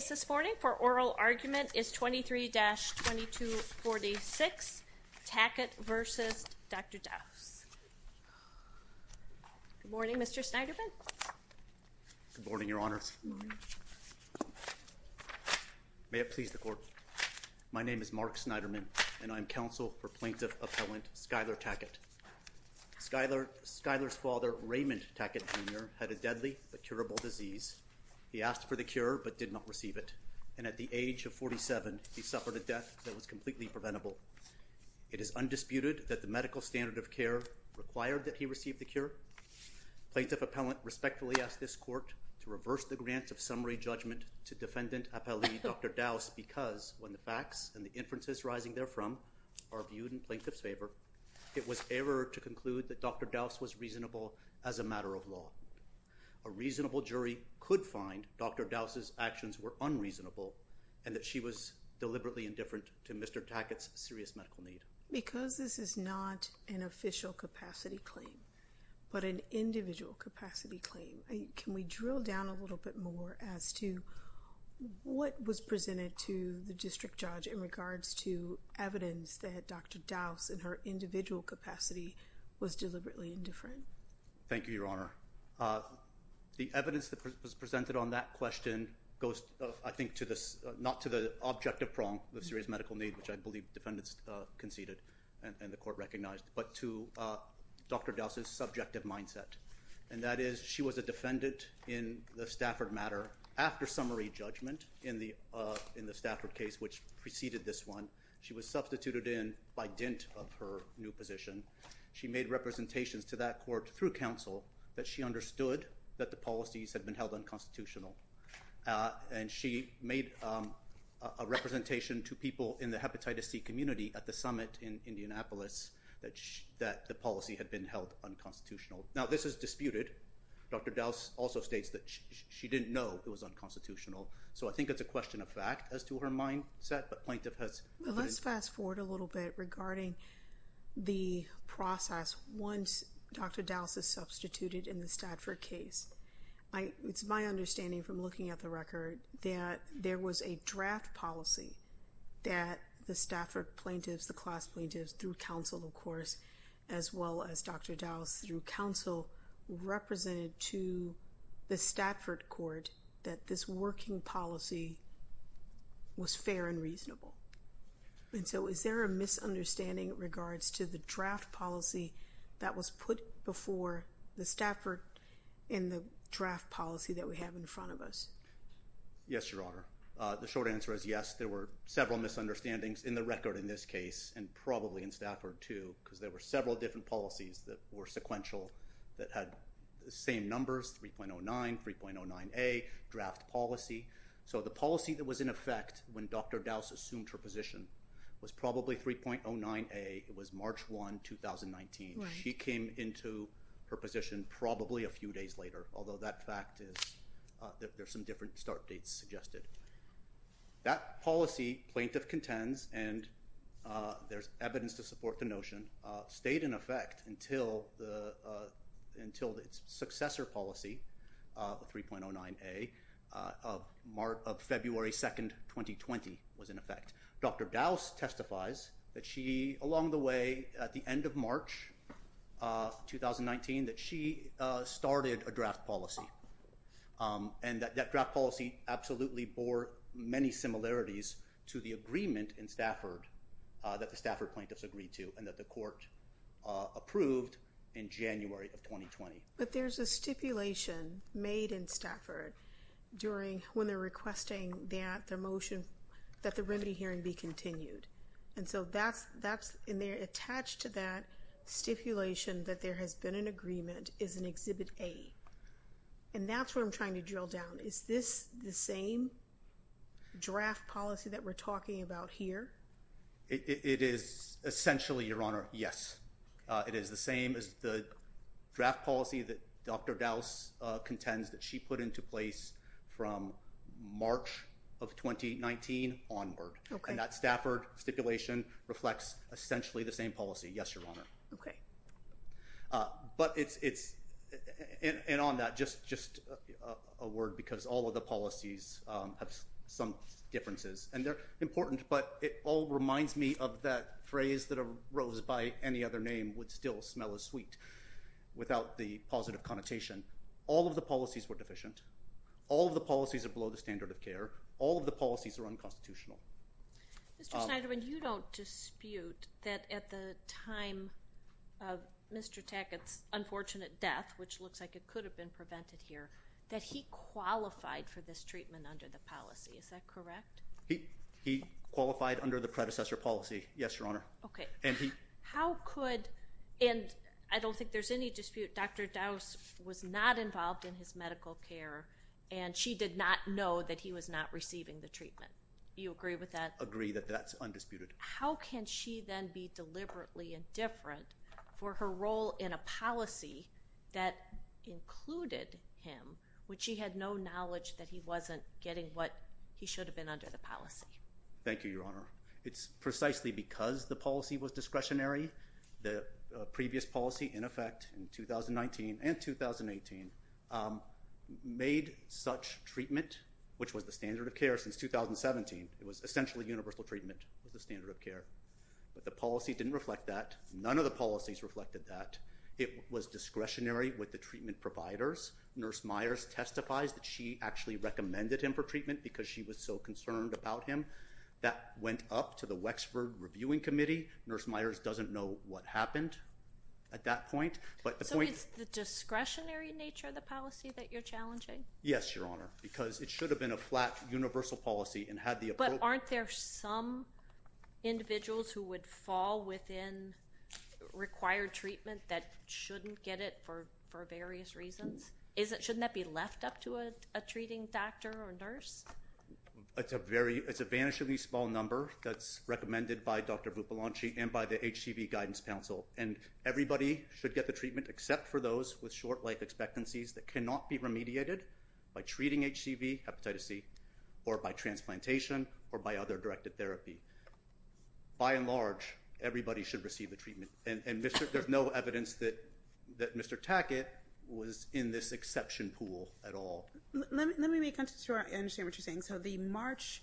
The case this morning for oral argument is 23-2246, Tackett v. Dr. Dauss. Good morning, Mr. Snyderman. Good morning, Your Honors. May it please the Court. My name is Mark Snyderman, and I am counsel for plaintiff-appellant Skyler Tackett. Skyler's father, Raymond Tackett, Jr., had a deadly but curable disease. He asked for the cure but did not receive it, and at the age of 47, he suffered a death that was completely preventable. It is undisputed that the medical standard of care required that he receive the cure. Plaintiff-appellant respectfully asked this Court to reverse the grant of summary judgment to defendant-appellee Dr. Dauss because, when the facts and the inferences rising therefrom are viewed in plaintiff's favor, it was error to conclude that Dr. Dauss was reasonable as a matter of law. A reasonable jury could find Dr. Dauss's actions were unreasonable and that she was deliberately indifferent to Mr. Tackett's serious medical need. Because this is not an official capacity claim but an individual capacity claim, can we drill down a little bit more as to what was presented to the district judge in regards to evidence that Dr. Dauss, in her individual capacity, was deliberately indifferent? Thank you, Your Honor. The evidence that was presented on that question goes, I think, not to the objective prong of serious medical need, which I believe defendants conceded and the Court recognized, but to Dr. Dauss's subjective mindset. And that is she was a defendant in the Stafford matter after summary judgment in the Stafford case, which preceded this one. She was substituted in by dint of her new position. She made representations to that court through counsel that she understood that the policies had been held unconstitutional. And she made a representation to people in the hepatitis C community at the summit in Indianapolis that the policy had been held unconstitutional. Now, this is disputed. Dr. Dauss also states that she didn't know it was unconstitutional. So I think it's a question of fact as to her mindset, but plaintiff has- Let's fast forward a little bit regarding the process once Dr. Dauss is substituted in the Stafford case. It's my understanding from looking at the record that there was a draft policy that the Stafford plaintiffs, the class plaintiffs through counsel, of course, as well as Dr. Dauss through counsel, represented to the Stafford court that this working policy was fair and reasonable. And so is there a misunderstanding in regards to the draft policy that was put before the Stafford in the draft policy that we have in front of us? Yes, Your Honor. The short answer is yes. There were several misunderstandings in the record in this case and probably in Stafford too, because there were several different policies that were sequential that had the same numbers, 3.09, 3.09A draft policy. So the policy that was in effect when Dr. Dauss assumed her position was probably 3.09A. It was March 1, 2019. She came into her position probably a few days later, although that fact is that there's some different start dates suggested. That policy, plaintiff contends, and there's evidence to support the notion, stayed in effect until its successor policy, 3.09A, of February 2, 2020 was in effect. Dr. Dauss testifies that she, along the way at the end of March 2019, that she started a draft policy. And that draft policy absolutely bore many similarities to the agreement in Stafford that the Stafford plaintiffs agreed to and that the court approved in January of 2020. But there's a stipulation made in Stafford when they're requesting that their motion, that the remedy hearing be continued. And so that's in there attached to that stipulation that there has been an agreement is in Exhibit A. And that's what I'm trying to drill down. Is this the same draft policy that we're talking about here? It is essentially, Your Honor, yes. It is the same as the draft policy that Dr. Dauss contends that she put into place from March of 2019 onward. And that Stafford stipulation reflects essentially the same policy. Yes, Your Honor. But it's and on that, just just a word, because all of the policies have some differences and they're important. But it all reminds me of that phrase that a rose by any other name would still smell as sweet without the positive connotation. All of the policies were deficient. All of the policies are below the standard of care. All of the policies are unconstitutional. Mr. Schneiderman, you don't dispute that at the time of Mr. Tackett's unfortunate death, which looks like it could have been prevented here, that he qualified for this treatment under the policy. Is that correct? He qualified under the predecessor policy. Yes, Your Honor. OK, and how could and I don't think there's any dispute. Dr. Dauss was not involved in his medical care and she did not know that he was not receiving the treatment. You agree with that? Agree that that's undisputed. How can she then be deliberately indifferent for her role in a policy that included him, which she had no knowledge that he wasn't getting what he should have been under the policy? Thank you, Your Honor. It's precisely because the policy was discretionary. The previous policy in effect in 2019 and 2018 made such treatment, which was the standard of care since 2017. It was essentially universal treatment with the standard of care, but the policy didn't reflect that. None of the policies reflected that. It was discretionary with the treatment providers. Nurse Myers testifies that she actually recommended him for treatment because she was so concerned about him. That went up to the Wexford Reviewing Committee. Nurse Myers doesn't know what happened at that point. So it's the discretionary nature of the policy that you're challenging? Yes, Your Honor, because it should have been a flat universal policy and had the appropriate... But aren't there some individuals who would fall within required treatment that shouldn't get it for various reasons? Shouldn't that be left up to a treating doctor or nurse? It's a vanishingly small number that's recommended by Dr. Vupalanchi and by the HCV Guidance Council, and everybody should get the treatment except for those with short-life expectancies that cannot be remediated by treating HCV, hepatitis C, or by transplantation or by other directed therapy. By and large, everybody should receive the treatment. And there's no evidence that Mr. Tackett was in this exception pool at all. Let me make sure I understand what you're saying. So the March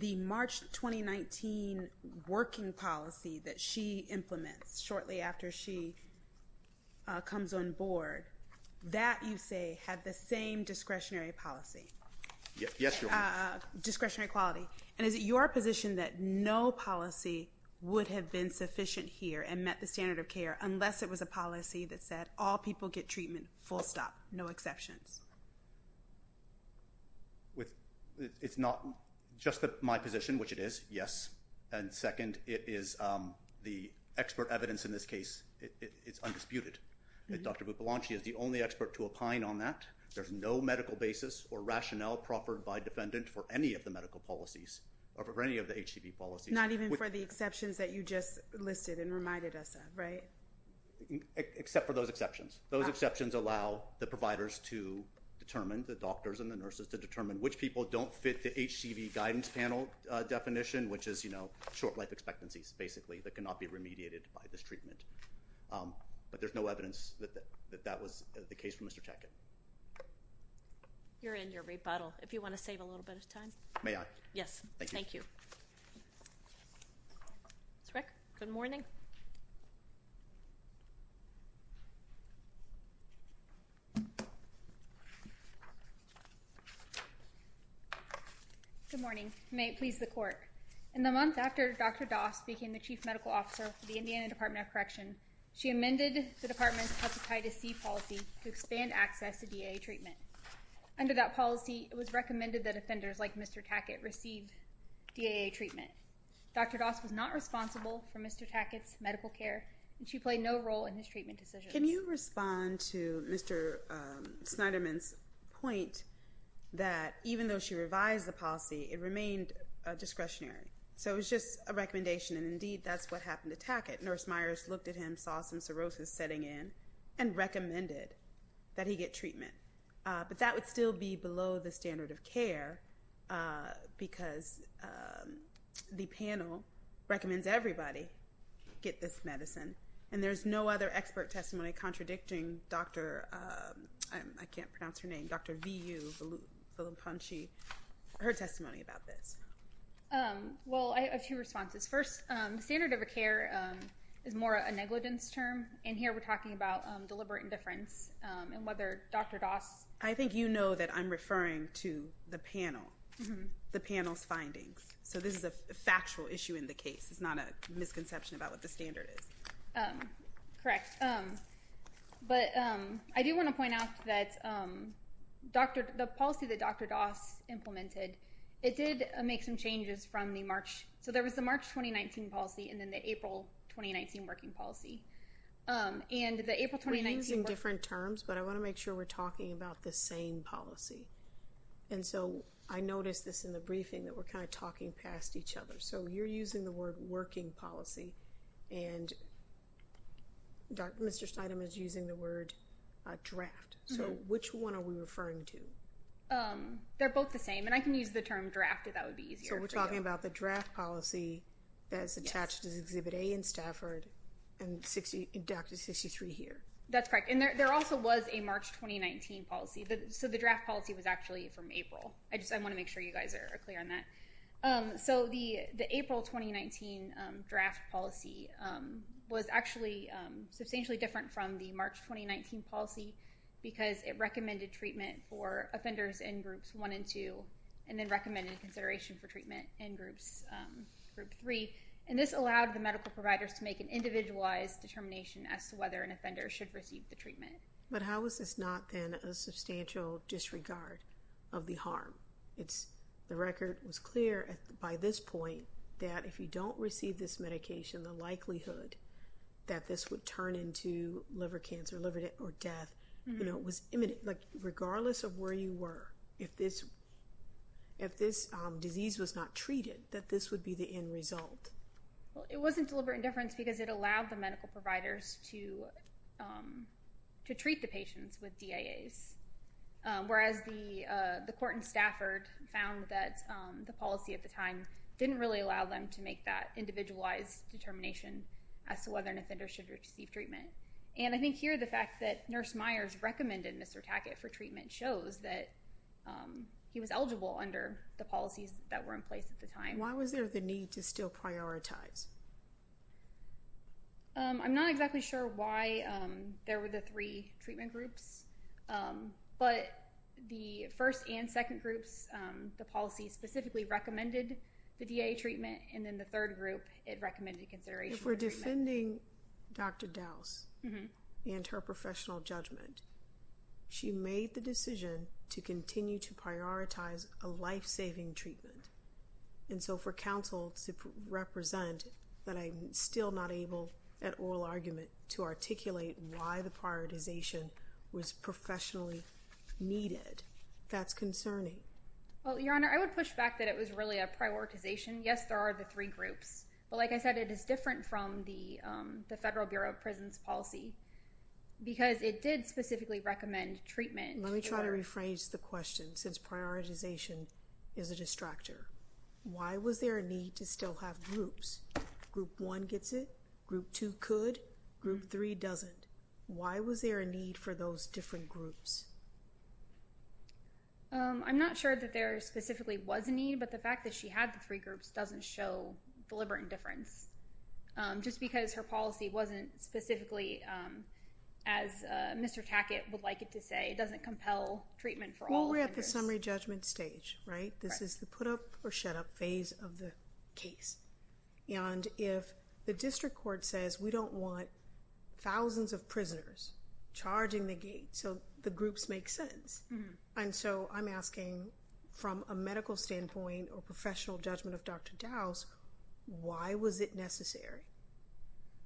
2019 working policy that she implements shortly after she comes on board, that you say had the same discretionary policy? Yes, Your Honor. Discretionary quality. And is it your position that no policy would have been sufficient here and met the standard of care unless it was a policy that said all people get treatment, full stop, no exceptions? It's not just my position, which it is, yes. And second, it is the expert evidence in this case. It's undisputed. Dr. Vupalanchi is the only expert to opine on that. There's no medical basis or rationale proffered by defendant for any of the medical policies or for any of the HCV policies. Not even for the exceptions that you just listed and reminded us of, right? Except for those exceptions. Those exceptions allow the providers to determine, the doctors and the nurses, to determine which people don't fit the HCV guidance panel definition, which is short life expectancies, basically, that cannot be remediated by this treatment. But there's no evidence that that was the case for Mr. Tackett. You're in your rebuttal. If you want to save a little bit of time. May I? Yes. Thank you. Ms. Rick, good morning. Good morning. May it please the court. In the month after Dr. Doss became the chief medical officer for the Indiana Department of Correction, she amended the department's hepatitis C policy to expand access to DA treatment. Under that policy, it was recommended that offenders like Mr. Tackett receive DAA treatment. Dr. Doss was not responsible for Mr. Tackett's medical care, and she played no role in his treatment decisions. Can you respond to Mr. Snyderman's point that even though she revised the policy, it remained discretionary? So it was just a recommendation, and indeed, that's what happened to Tackett. Nurse Myers looked at him, saw some cirrhosis setting in, and recommended that he get treatment. But that would still be below the standard of care because the panel recommends everybody get this medicine. And there's no other expert testimony contradicting Dr. Vu Villepunchy, her testimony about this. Well, I have two responses. First, the standard of care is more a negligence term, and here we're talking about deliberate indifference and whether Dr. Doss- I think you know that I'm referring to the panel, the panel's findings. So this is a factual issue in the case. It's not a misconception about what the standard is. Correct. But I do want to point out that the policy that Dr. Doss implemented, it did make some changes from the March. So there was the March 2019 policy and then the April 2019 working policy. And the April 2019- We're using different terms, but I want to make sure we're talking about the same policy. And so I noticed this in the briefing that we're kind of talking past each other. So you're using the word working policy, and Mr. Steinem is using the word draft. So which one are we referring to? They're both the same, and I can use the term draft if that would be easier for you. So we're talking about the draft policy that's attached to Exhibit A in Stafford and Dr. 63 here. That's correct. And there also was a March 2019 policy. So the draft policy was actually from April. I just want to make sure you guys are clear on that. So the April 2019 draft policy was actually substantially different from the March 2019 policy because it recommended treatment for offenders in Groups 1 and 2 and then recommended consideration for treatment in Group 3. And this allowed the medical providers to make an individualized determination as to whether an offender should receive the treatment. But how is this not then a substantial disregard of the harm? The record was clear by this point that if you don't receive this medication, the likelihood that this would turn into liver cancer or death was imminent. Regardless of where you were, if this disease was not treated, that this would be the end result. Well, it wasn't deliberate indifference because it allowed the medical providers to treat the patients with DIAs, whereas the court in Stafford found that the policy at the time didn't really allow them to make that individualized determination as to whether an offender should receive treatment. And I think here the fact that Nurse Myers recommended Mr. Tackett for treatment shows that he was eligible under the policies that were in place at the time. Why was there the need to still prioritize? I'm not exactly sure why there were the three treatment groups, but the first and second groups, the policy specifically recommended the DIA treatment. And then the third group, it recommended consideration for treatment. If we're defending Dr. Dowse and her professional judgment, she made the decision to continue to prioritize a life-saving treatment. And so for counsel to represent that I'm still not able at oral argument to articulate why the prioritization was concerning. Well, Your Honor, I would push back that it was really a prioritization. Yes, there are the three groups, but like I said, it is different from the Federal Bureau of Prisons policy because it did specifically recommend treatment. Let me try to rephrase the question since prioritization is a distractor. Why was there a need to still have groups? Group one gets it, group two could, group three doesn't. Why was there a need for those different groups? I'm not sure that there specifically was a need, but the fact that she had the three groups doesn't show deliberate indifference. Just because her policy wasn't specifically, as Mr. Tackett would like it to say, doesn't compel treatment for all offenders. Well, we're at the summary judgment stage, right? This is the put-up or shut-up phase of the case. And if the district court says we don't want thousands of prisoners charging the gate, so the groups make sense. And so I'm asking from a medical standpoint or professional judgment of Dr. Dowse, why was it necessary?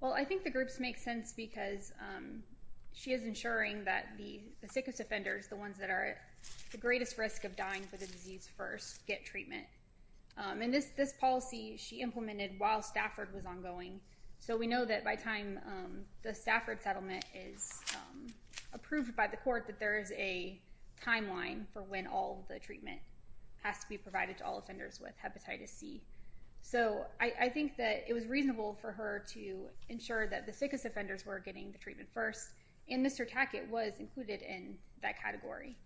Well, I think the groups make sense because she is ensuring that the sickest offenders, the ones that are at the greatest risk of dying for the disease first, get treatment. And this policy she implemented while Stafford was ongoing. So we know that by the time the Stafford settlement is approved by the court that there is a timeline for when all the treatment has to be provided to all offenders with hepatitis C. So I think that it was reasonable for her to ensure that the sickest offenders were getting the treatment first, and Mr. Tackett was included in that category.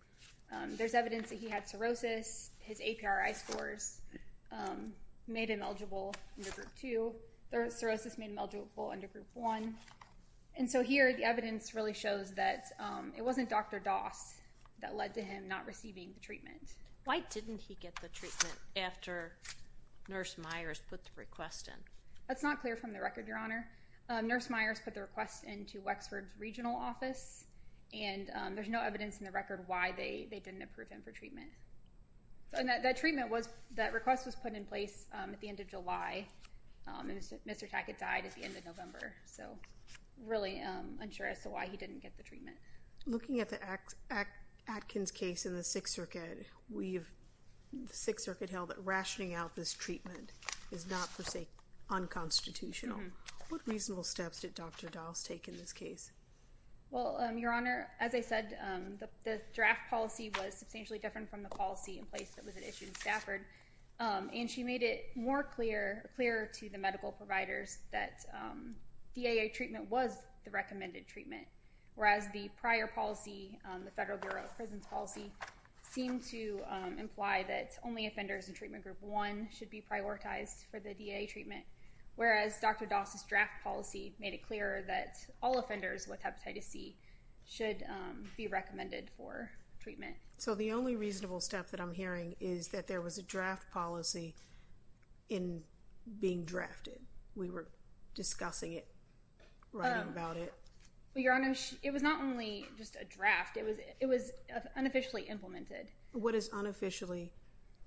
There's evidence that he had cirrhosis. His APRI scores made him eligible under Group 2. Cirrhosis made him eligible under Group 1. And so here the evidence really shows that it wasn't Dr. Dowse that led to him not receiving the treatment. Why didn't he get the treatment after Nurse Myers put the request in? That's not clear from the record, Your Honor. Nurse Myers put the request into Wexford's regional office, and there's no evidence in the record why they didn't approve him for treatment. That request was put in place at the end of July, and Mr. Tackett died at the end of November. So really unsure as to why he didn't get the treatment. Looking at the Atkins case in the Sixth Circuit, the Sixth Circuit held that rationing out this treatment is not, per se, unconstitutional. What reasonable steps did Dr. Dowse take in this case? Well, Your Honor, as I said, the draft policy was substantially different from the policy in place that was issued in Stafford, and she made it more clear to the medical providers that DAA treatment was the recommended treatment, whereas the prior policy, the Federal Bureau of Prisons policy, seemed to imply that only offenders in Treatment Group 1 should be prioritized for the DAA treatment, whereas Dr. Dowse's draft policy made it clear that all offenders with hepatitis C should be recommended for treatment. So the only reasonable step that I'm hearing is that there was a draft policy in being drafted. We were discussing it, writing about it. Well, Your Honor, it was not only just a draft. It was unofficially implemented. What does unofficially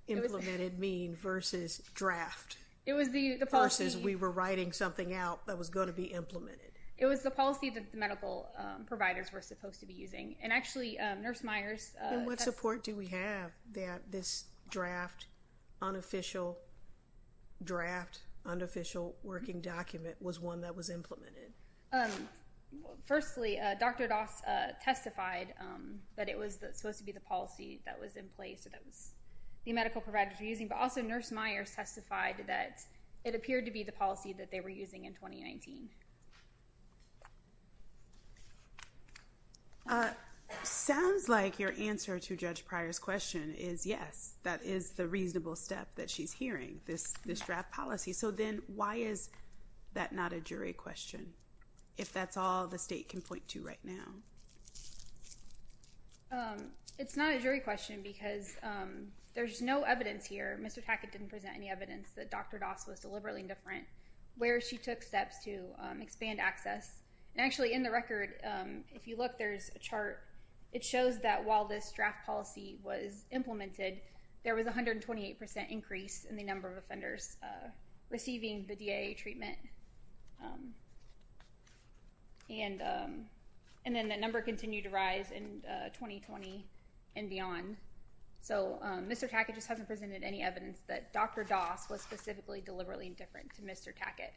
implemented mean versus draft? It was the policy— Versus we were writing something out that was going to be implemented. It was the policy that the medical providers were supposed to be using, and actually, Nurse Myers— Then what support do we have that this draft, unofficial draft, unofficial working document was one that was implemented? Firstly, Dr. Dowse testified that it was supposed to be the policy that was in place, the medical providers were using. But also, Nurse Myers testified that it appeared to be the policy that they were using in 2019. Sounds like your answer to Judge Pryor's question is yes, that is the reasonable step that she's hearing, this draft policy. So then why is that not a jury question, if that's all the State can point to right now? It's not a jury question because there's no evidence here—Mr. Tackett didn't present any evidence that Dr. Dowse was deliberately indifferent— where she took steps to expand access. And actually, in the record, if you look, there's a chart. It shows that while this draft policy was implemented, there was a 128% increase in the number of offenders receiving the DIA treatment. And then the number continued to rise in 2020 and beyond. So Mr. Tackett just hasn't presented any evidence that Dr. Dowse was specifically deliberately indifferent to Mr. Tackett.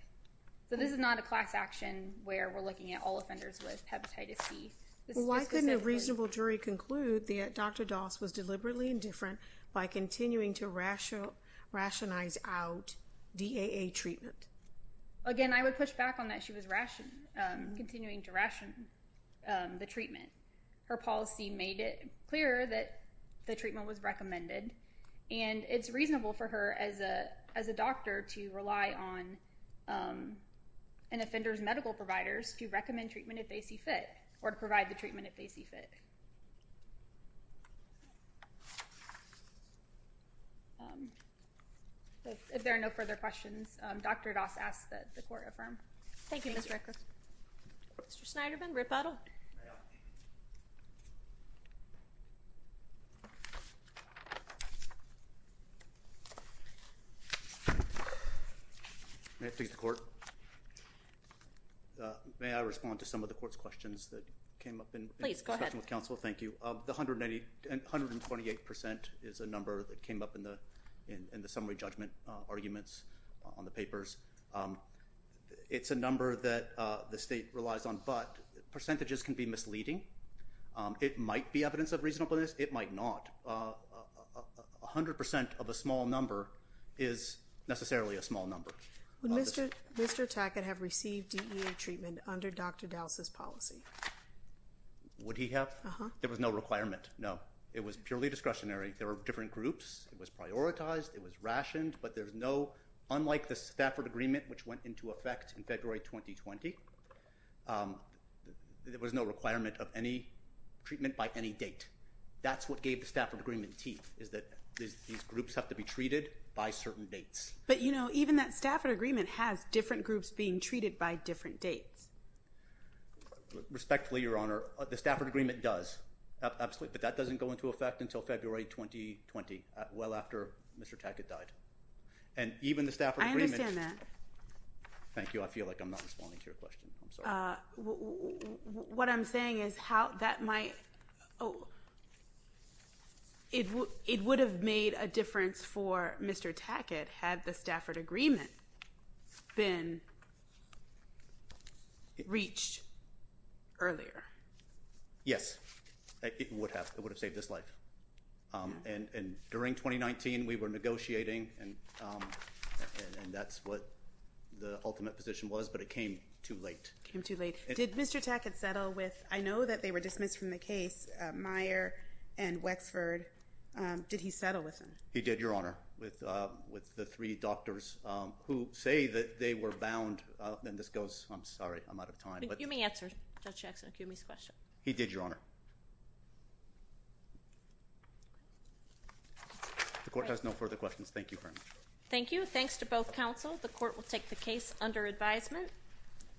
So this is not a class action where we're looking at all offenders with hepatitis C. Why couldn't a reasonable jury conclude that Dr. Dowse was deliberately indifferent by continuing to rationalize out DIA treatment? Again, I would push back on that she was continuing to ration the treatment. Her policy made it clear that the treatment was recommended, and it's reasonable for her as a doctor to rely on an offender's medical providers to recommend treatment if they see fit, or to provide the treatment if they see fit. Thank you. If there are no further questions, Dr. Dowse asks that the court affirm. Thank you, Ms. Ricker. Mr. Snyderman, Rip Edel. May I speak to the court? May I respond to some of the court's questions that came up in discussion with counsel? Thank you. The 128% is a number that came up in the summary judgment arguments on the papers. It's a number that the state relies on, but percentages can be misleading. It might be evidence of reasonableness. It might not. 100% of a small number is necessarily a small number. Would Mr. Tackett have received DEA treatment under Dr. Dowse's policy? Would he have? Uh-huh. There was no requirement, no. It was purely discretionary. There were different groups. It was prioritized. It was rationed. But there's no, unlike the Stafford Agreement, which went into effect in February 2020, there was no requirement of any treatment by any date. That's what gave the Stafford Agreement teeth, is that these groups have to be treated by certain dates. But, you know, even that Stafford Agreement has different groups being treated by different dates. Respectfully, Your Honor, the Stafford Agreement does. Absolutely. But that doesn't go into effect until February 2020, well after Mr. Tackett died. And even the Stafford Agreement— I understand that. Thank you. I feel like I'm not responding to your question. I'm sorry. What I'm saying is how that might—oh. It would have made a difference for Mr. Tackett had the Stafford Agreement been reached earlier. Yes. It would have. It would have saved his life. And during 2019, we were negotiating, and that's what the ultimate position was, but it came too late. It came too late. Did Mr. Tackett settle with—I know that they were dismissed from the case, Meyer and Wexford. Did he settle with them? He did, Your Honor, with the three doctors who say that they were bound. And this goes—I'm sorry. I'm out of time. But you may answer Judge Jackson-Akumi's question. He did, Your Honor. The court has no further questions. Thank you very much. Thank you. Thanks to both counsel. The court will take the case under advisement.